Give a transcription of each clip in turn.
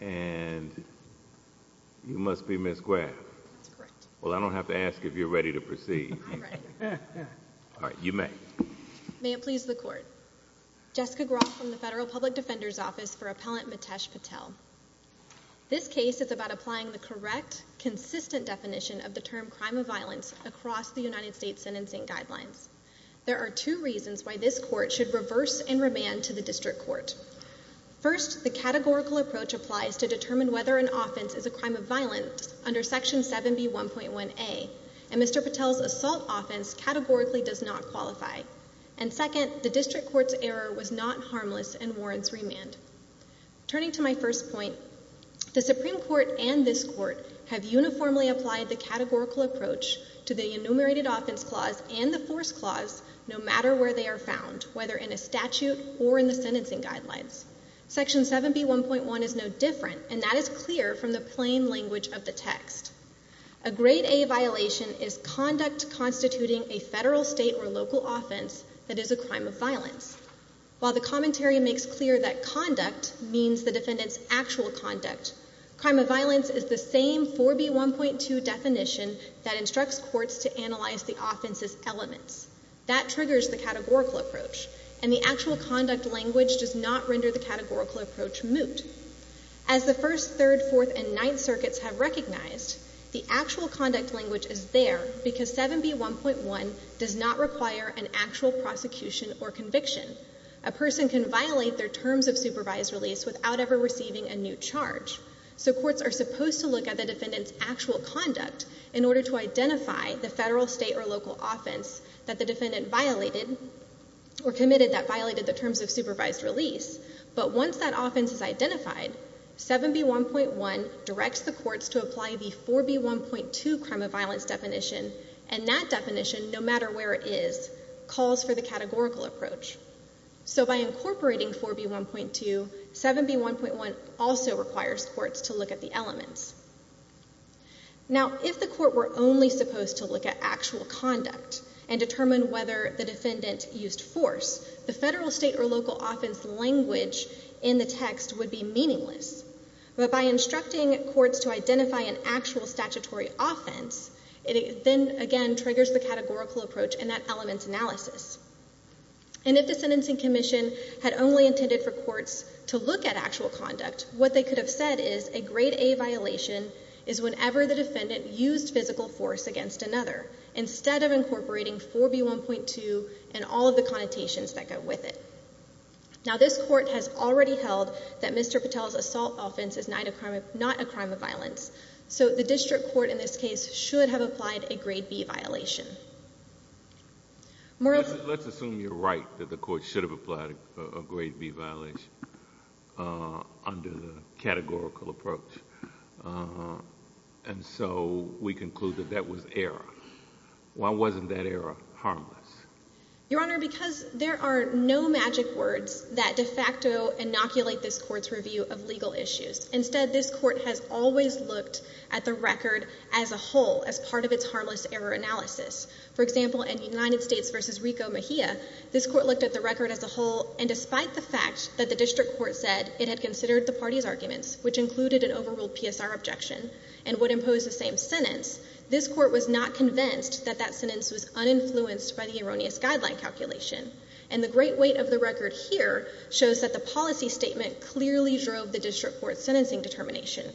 and you must be Ms. Graff. That's correct. Well, I don't have to ask if you're ready to proceed. I'm ready. All right. You may. May it please the court. Jessica Graff from the Federal Public Defender's Office for Appellant Mitesh Patel. This case is about applying the correct, consistent definition of the term crime of violence across the United States sentencing guidelines. There are two reasons why this court should reverse and remand to the district court. First, the categorical approach applies to determine whether an offense is a crime of violence under Section 7B1.1a, and Mr. Patel's assault offense categorically does not qualify. And second, the district court's error was not harmless and warrants remand. Turning to my first point, the Supreme Court and this court have uniformly applied the categorical approach to the enumerated offense clause and the force clause, no matter where they are found, whether in a statute or in the sentencing guidelines. Section 7B1.1 is no different, and that is clear from the plain language of the text. A grade A violation is conduct constituting a federal, state, or local offense that is a crime of violence. While the commentary makes clear that conduct means the defendant's actual conduct, crime of violence is the same 4B1.2 definition that instructs courts to analyze the offense's elements. That triggers the categorical approach, and the actual conduct language does not render the categorical approach moot. As the First, Third, Fourth, and Ninth Circuits have recognized, the actual conduct language is there because 7B1.1 does not require an actual prosecution or conviction. A person can violate their terms of supervised release without ever receiving a new charge. So courts are supposed to look at the defendant's actual conduct in order to identify the federal, state, or local offense that the defendant violated or committed that violated the terms of supervised release. But once that offense is identified, 7B1.1 directs the courts to apply the 4B1.2 crime of violence definition, and that definition, no matter where it is, calls for the categorical approach. So by incorporating 4B1.2, 7B1.1 also requires courts to look at the elements. Now, if the court were only supposed to look at actual conduct and determine whether the defendant used force, the federal, state, or local offense language in the text would be meaningless. But by instructing courts to identify an actual statutory offense, it then, again, triggers the categorical approach and that element's analysis. And if the Sentencing Commission had only intended for courts to look at actual conduct, what they could have said is, a grade A violation is whenever the defendant used physical force against another, instead of incorporating 4B1.2 and all of the connotations that go with it. Now, this court has already held that Mr. Patel's assault offense is not a crime of violence. So the district court, in this case, should have applied a grade B violation. Let's assume you're right, that the court should have applied a grade B violation under the categorical approach. And so we conclude that that was error. Why wasn't that error harmless? Your Honor, because there are no magic words that de facto inoculate this court's review of legal issues. Instead, this court has always looked at the record as a whole, as part of its harmless error analysis. For example, in United States v. Rico Mejia, this court looked at the record as a whole, and despite the fact that the district court said it had considered the party's arguments, which included an overruled PSR objection, and would impose the same sentence, this court was not convinced that that sentence was uninfluenced by the erroneous guideline calculation. And the great weight of the record here shows that the policy statement clearly drove the district court's sentencing determination.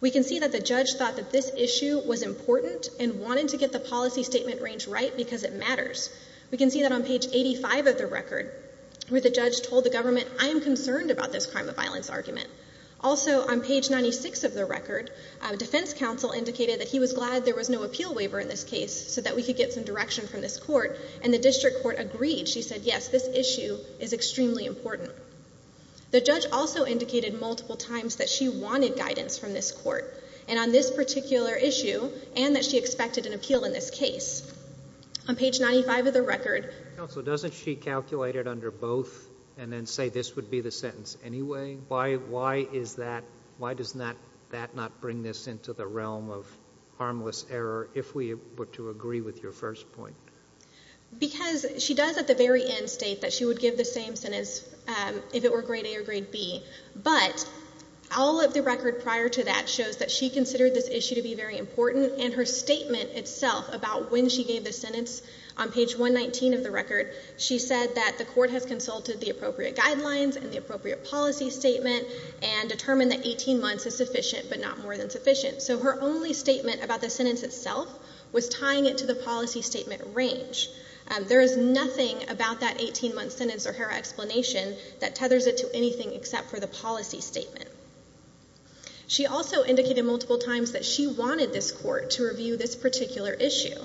We can see that the judge thought that this issue was important, and wanted to get the policy statement range right because it matters. We can see that on page 85 of the record, where the judge told the government, I am concerned about this crime of violence argument. Also, on page 96 of the record, defense counsel indicated that he was glad there was no appeal waiver in this case, so that we could get some direction from this court, and the district court agreed. She said, yes, this issue is extremely important. The judge also indicated multiple times that she wanted guidance from this court, and on this particular issue, and that she expected an appeal in this case. On page 95 of the record... Counsel, doesn't she calculate it under both, and then say this would be the sentence anyway? Why is that, why does that not bring this into the realm of harmless error, if we were to agree with your first point? Because she does, at the very end, state that she would give the same sentence if it were grade A or grade B, but all of the record prior to that shows that she considered this issue to be very important, and her statement itself about when she gave the sentence, on page 119 of the record, she said that the court has consulted the appropriate guidelines and the appropriate policy statement, and determined that 18 months is sufficient, but not more than sufficient, so her only statement about the sentence itself was tying it to the policy statement range. There is nothing about that 18-month sentence or her explanation that tethers it to anything except for the policy statement. She also indicated multiple times that she wanted this court to review this particular issue.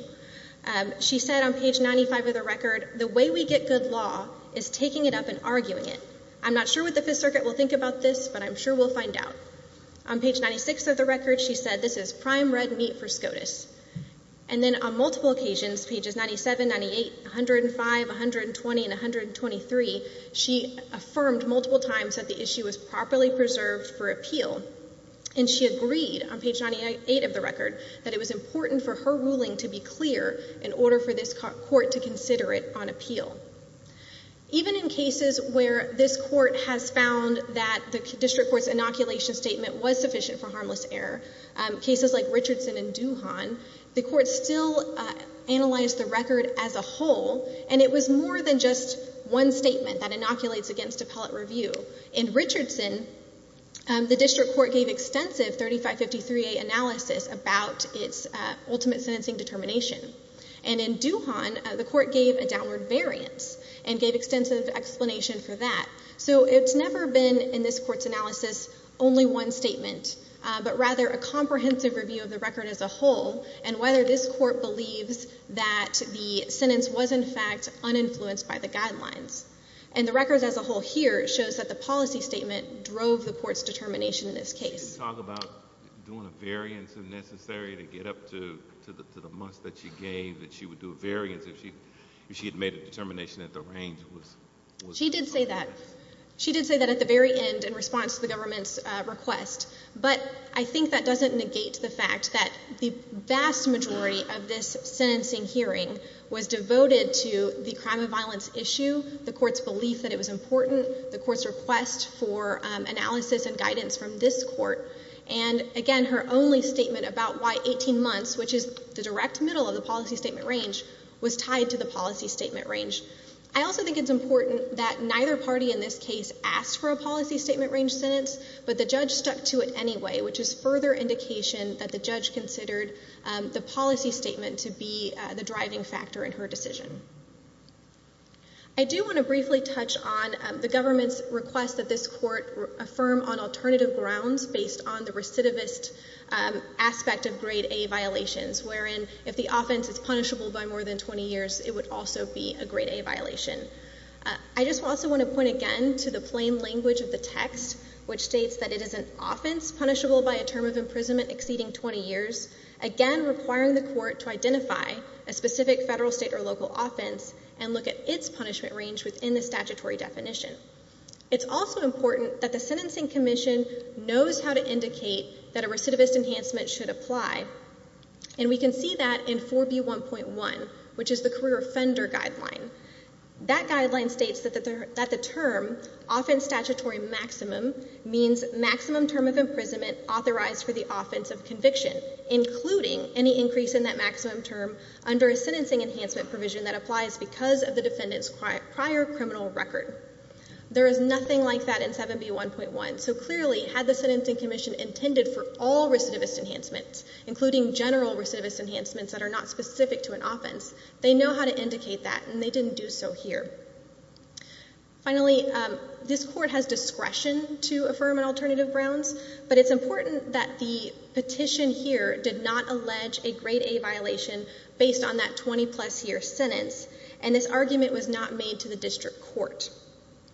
She said on page 95 of the record, the way we get good law is taking it up and arguing it. I'm not sure what the Fifth Circuit will think about this, but I'm sure we'll find out. On page 96 of the record, she said this is prime red meat for SCOTUS. And then on multiple occasions, pages 97, 98, 105, 120, and 123, she affirmed multiple times that the issue was properly preserved for appeal, and she agreed on page 98 of the record that it was important for her ruling to be clear in order for this court to consider it on appeal. Even in cases where this court has found that the district court's inoculation statement was sufficient for harmless error, cases like Richardson and Duhon, the court still analyzed the record as a whole, and it was more than just one statement that inoculates against appellate review. In Richardson, the district court gave extensive 3553A analysis about its ultimate sentencing determination. And in Duhon, the court gave a downward variance and gave extensive explanation for that. So it's never been, in this court's analysis, only one statement, but rather a comprehensive review of the record as a whole and whether this court believes that the sentence was in fact uninfluenced by the guidelines. And the record as a whole here shows that the policy statement drove the court's determination in this case. She didn't talk about doing a variance if necessary to get up to the must that she gave, that she would do a variance if she had made a determination that the range was... She did say that. She did say that at the very end in response to the government's request. But I think that doesn't negate the fact that the vast majority of this sentencing hearing was devoted to the crime of violence issue, the court's belief that it was important, the court's request for analysis and guidance from this court, and again, her only statement about why 18 months, which is the direct middle of the policy statement range, was tied to the policy statement range. I also think it's important that neither party in this case asked for a policy statement range sentence, but the judge stuck to it anyway, which is further indication that the judge considered the policy statement to be the driving factor in her decision. I do want to briefly touch on the government's request that this court affirm on alternative grounds based on the recidivist aspect of grade A violations, wherein if the offense is punishable by more than 20 years, it would also be a grade A violation. I just also want to point again to the plain language of the text, which states that it is an offense punishable by a term of imprisonment exceeding 20 years, again requiring the court to identify a specific federal, state, or local offense and look at its punishment range within the statutory definition. It's also important that the sentencing commission knows how to indicate that a recidivist enhancement should apply, and we can see that in 4B1.1, which is the career offender guideline. That guideline states that the term, offense statutory maximum, means maximum term of imprisonment authorized for the offense of conviction, including any increase in that maximum term under a sentencing enhancement provision that applies because of the defendant's prior criminal record. There is nothing like that in 7B1.1, so clearly, had the sentencing commission intended for all recidivist enhancements, including general recidivist enhancements that are not specific to an offense, they know how to indicate that, and they didn't do so here. Finally, this court has discretion to affirm an alternative grounds, but it's important that the petition here did not allege a grade A violation based on that 20-plus year sentence, and this argument was not made to the district court.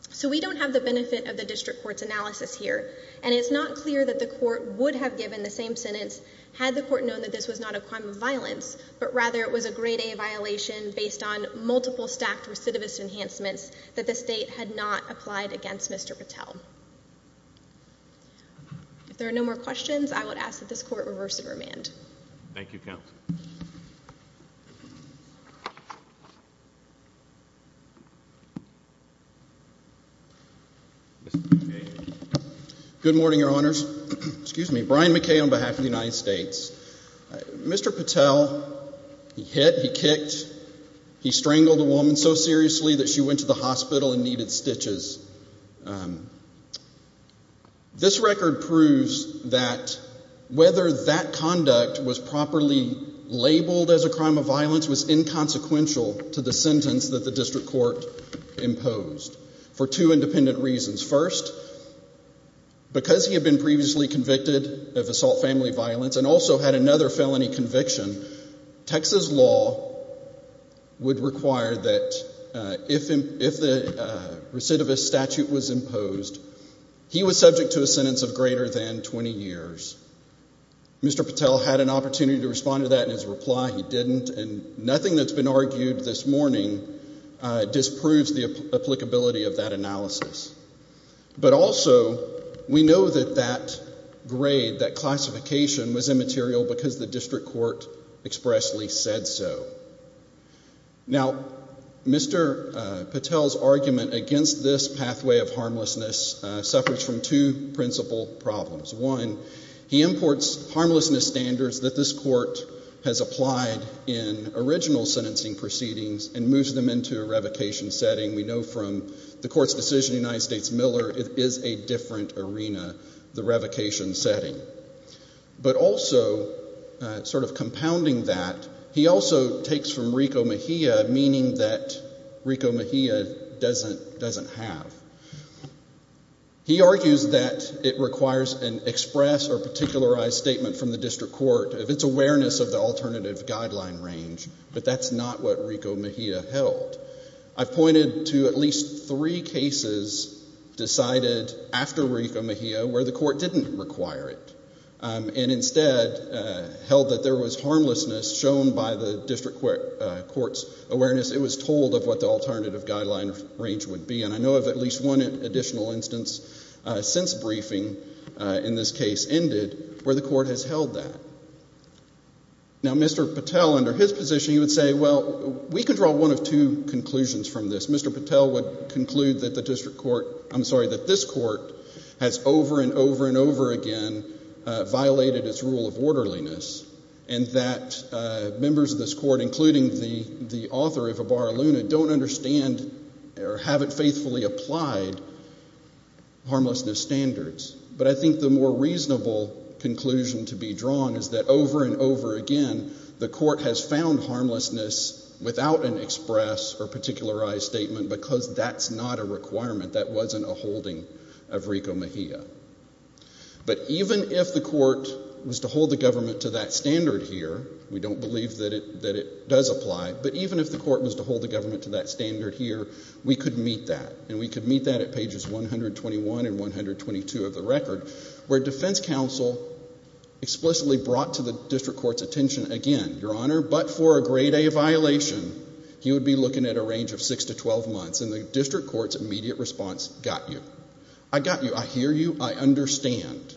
So we don't have the benefit of the district court's analysis here, and it's not clear that the court would have given the same sentence had the court known that this was not a crime of violence, but rather it was a grade A violation based on multiple stacked recidivist enhancements that the state had not applied against Mr. Patel. If there are no more questions, I would ask that this court reverse and remand. Thank you, counsel. Mr. McKay. Good morning, Your Honors. Excuse me. Brian McKay on behalf of the United States. Mr. Patel, he hit, he kicked, he strangled a woman so seriously that she went to the hospital and needed stitches. This record proves that whether that conduct was properly labeled as a crime of violence was inconsequential to the sentence that the district court imposed for two independent reasons. First, because he had been previously convicted of assault family violence and also had another statute was imposed. He was subject to a sentence of greater than 20 years. Mr. Patel had an opportunity to respond to that in his reply, he didn't, and nothing that's been argued this morning disproves the applicability of that analysis. But also, we know that that grade, that classification was immaterial because the district court expressly said so. Now, Mr. Patel's argument against this pathway of harmlessness suffers from two principal problems. One, he imports harmlessness standards that this court has applied in original sentencing proceedings and moves them into a revocation setting. We know from the court's decision in the United States Miller, it is a different arena, the revocation setting. But also, sort of compounding that, he also takes from Rico Mejia, meaning that Rico Mejia doesn't have. He argues that it requires an express or particularized statement from the district court of its awareness of the alternative guideline range, but that's not what Rico Mejia held. I've pointed to at least three cases decided after Rico Mejia where the court didn't require it and instead held that there was harmlessness shown by the district court's awareness. It was told of what the alternative guideline range would be, and I know of at least one additional instance since briefing in this case ended where the court has held that. Now, Mr. Patel, under his position, he would say, well, we can draw one of two conclusions from this. Mr. Patel would conclude that the district court, I'm sorry, that this court has over and over and over again violated its rule of orderliness, and that members of this court, including the author of Ibarra Luna, don't understand or haven't faithfully applied harmlessness standards. But I think the more reasonable conclusion to be drawn is that over and over again, the court has found harmlessness without an express or particularized statement because that's not a requirement. That wasn't a holding of Rico Mejia. But even if the court was to hold the government to that standard here, we don't believe that it does apply, but even if the court was to hold the government to that standard here, we could meet that, and we could meet that at pages 121 and 122 of the record where defense counsel explicitly brought to the district court's attention again, Your Honor, but for a grade A violation, he would be looking at a range of 6 to 12 months, and the district court's immediate response, got you. I got you. I hear you. I understand.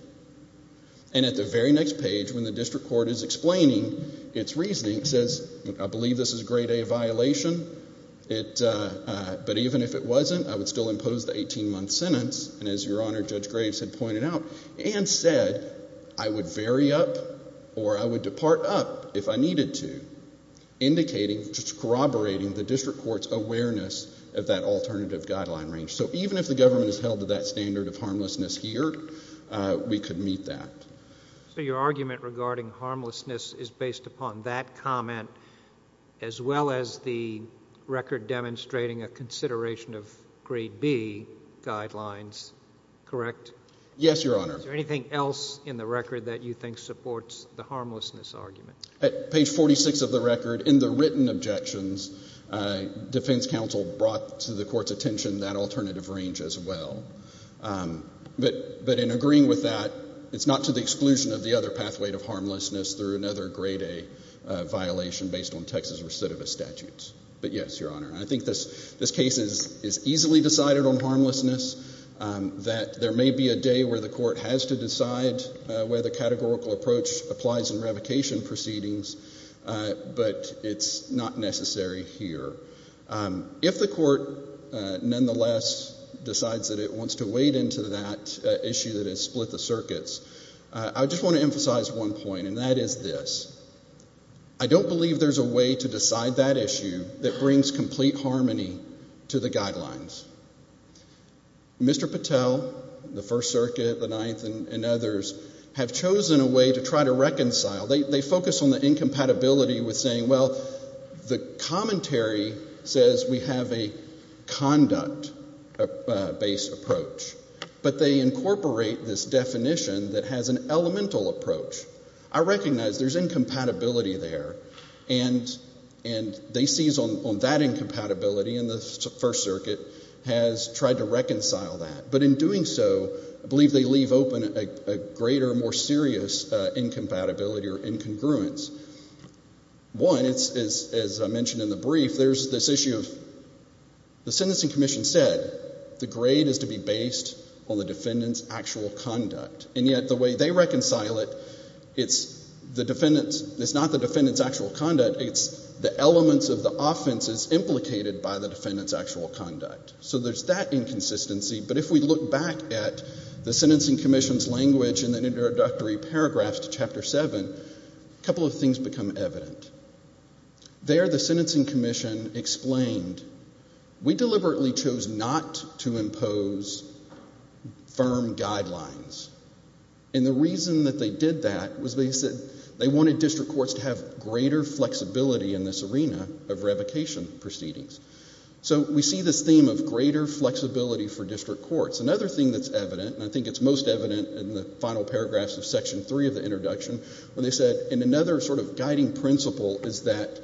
And at the very next page, when the district court is explaining its reasoning, it says, I believe this is a grade A violation, but even if it wasn't, I would still impose the 18-month sentence, and as Your Honor, Judge Graves had pointed out, and said, I would vary up or I would depart up if I needed to, indicating, corroborating the district court's position of that alternative guideline range. So even if the government is held to that standard of harmlessness here, we could meet that. So your argument regarding harmlessness is based upon that comment as well as the record demonstrating a consideration of grade B guidelines, correct? Yes, Your Honor. Is there anything else in the record that you think supports the harmlessness argument? At page 46 of the record, in the written objections, defense counsel brought to the court's attention that alternative range as well. But in agreeing with that, it's not to the exclusion of the other pathway to harmlessness through another grade A violation based on Texas recidivist statutes. But yes, Your Honor, I think this case is easily decided on harmlessness, that there may be a day where the court has to decide whether categorical approach applies in revocation proceedings, but it's not necessary here. If the court, nonetheless, decides that it wants to wade into that issue that has split the circuits, I just want to emphasize one point, and that is this. I don't believe there's a way to decide that issue that brings complete harmony to the guidelines. Mr. Patel, the First Circuit, the Ninth, and others have chosen a way to try to reconcile. They focus on the incompatibility with saying, well, the commentary says we have a conduct-based approach, but they incorporate this definition that has an elemental approach. I recognize there's incompatibility there, and they seize on that incompatibility, and the First Circuit has tried to reconcile that. But in doing so, I believe they leave open a greater, more serious incompatibility or incongruence. One, as I mentioned in the brief, there's this issue of the sentencing commission said the grade is to be based on the defendant's actual conduct, and yet the way they reconcile it, it's not the defendant's actual conduct, it's the elements of the offenses implicated by the defendant's actual conduct. So there's that inconsistency, but if we look back at the sentencing commission's language in the introductory paragraphs to Chapter 7, a couple of things become evident. There the sentencing commission explained, we deliberately chose not to impose firm guidelines, and the reason that they did that was because they wanted district courts to have greater flexibility in this arena of revocation proceedings. So we see this theme of greater flexibility for district courts. Another thing that's evident, and I think it's most evident in the final paragraphs of Section 3 of the introduction, when they said, and another sort of guiding principle is that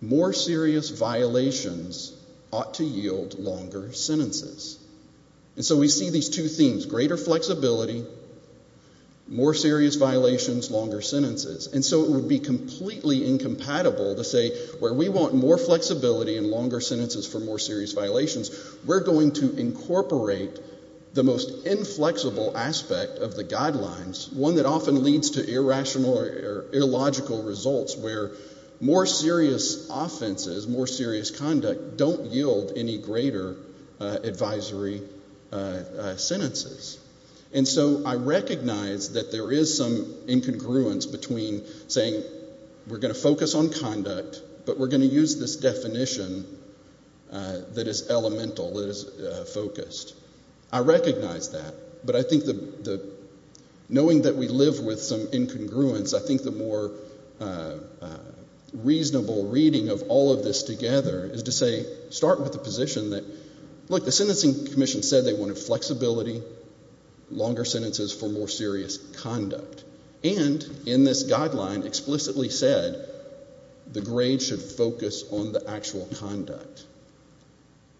more serious violations ought to yield longer sentences. And so we see these two themes, greater flexibility, more serious violations, longer sentences. And so it would be completely incompatible to say, where we want more flexibility and longer sentences for more serious violations, we're going to incorporate the most inflexible aspect of the guidelines, one that often leads to irrational or illogical results where more serious offenses, more serious conduct, don't yield any greater advisory sentences. And so I recognize that there is some incongruence between saying, we're going to focus on conduct, but we're going to use this definition that is elemental, that is focused. I recognize that, but I think knowing that we live with some incongruence, I think the more reasonable reading of all of this together is to say, start with the position that, look, the Sentencing Commission said they wanted flexibility, longer sentences for more serious conduct, and in this guideline explicitly said, the grade should focus on the actual conduct.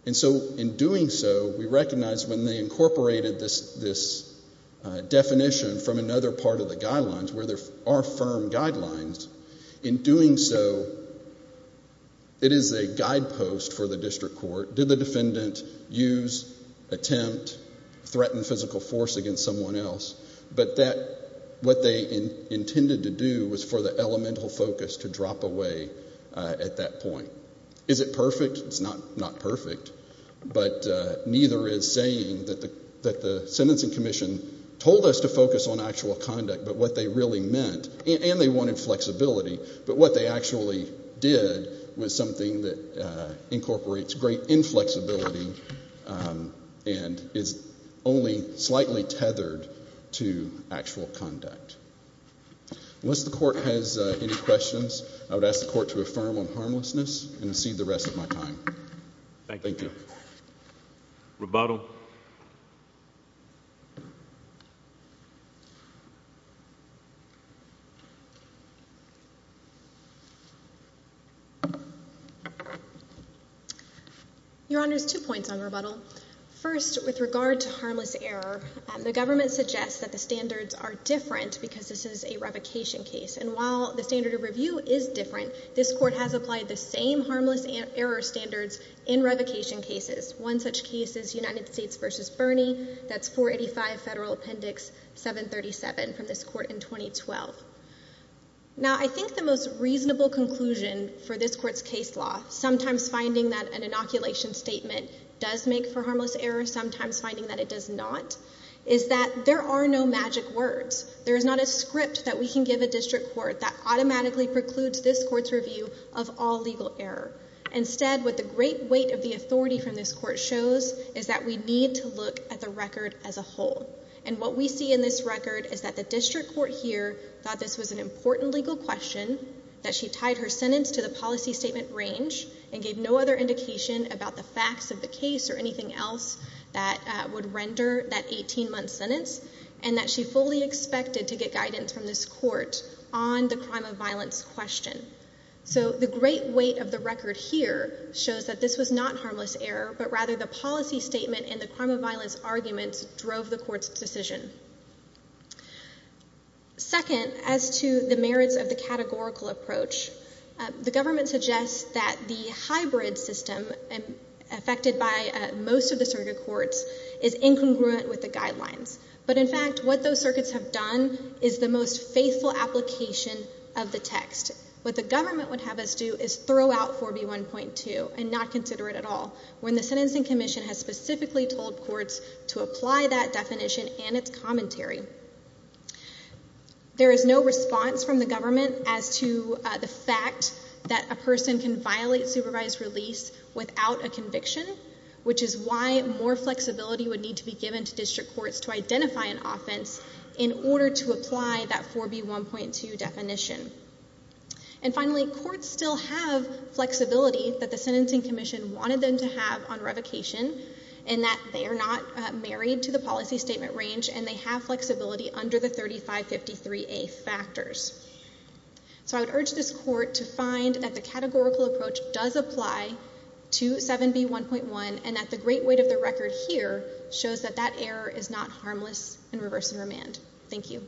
And so in doing so, we recognize when they incorporated this definition from another part of the guidelines, where there are firm guidelines, in doing so, it is a guidepost for the district court. Did the defendant use, attempt, threaten physical force against someone else? But that, what they intended to do was for the elemental focus to drop away at that point. Is it perfect? It's not perfect, but neither is saying that the Sentencing Commission told us to focus on actual conduct, but what they really meant, and they wanted flexibility, but what they actually did was something that incorporates great inflexibility and is only slightly tethered to actual conduct. Once the court has any questions, I would ask the court to affirm on harmlessness and to cede the rest of my time. Thank you. Your Honor, two points on rebuttal. First, with regard to harmless error, the government suggests that the standards are different because this is a revocation case, and while the standard of review is different, this court has applied the same harmless error standards in revocation cases. One such case is United States v. Bernie, that's 485 Federal Appendix 737 from this court in 2012. Now, I think the most reasonable conclusion for this court's case law, sometimes finding that an inoculation statement does make for harmless error, sometimes finding that it does not, is that there are no magic words. There is not a script that we can give a district court that automatically precludes this court's review of all legal error. Instead, what the great weight of the authority from this court shows is that we need to look at the record as a whole, and what we see in this record is that the district court here thought this was an important legal question, that she tied her sentence to the policy statement range and gave no other indication about the facts of the case or anything else that would render that 18-month sentence, and that she fully expected to get guidance from this court on the crime of violence question. So the great weight of the record here shows that this was not harmless error, but rather the policy statement and the crime of violence arguments drove the court's decision. Second, as to the merits of the categorical approach, the government suggests that the hybrid system affected by most of the circuit courts is incongruent with the guidelines. But in fact, what those circuits have done is the most faithful application of the text. What the courts do is throw out 4B1.2 and not consider it at all, when the Sentencing Commission has specifically told courts to apply that definition and its commentary. There is no response from the government as to the fact that a person can violate supervised release without a conviction, which is why more flexibility would need to be given to district courts to identify an offense in order to apply that 4B1.2 definition. And finally, courts still have flexibility that the Sentencing Commission wanted them to have on revocation, in that they are not married to the policy statement range, and they have flexibility under the 3553A factors. So I would urge this court to find that the categorical approach does apply to 7B1.1, and that the great weight of the record here shows that that error is not harmless in reverse and remand. Thank you.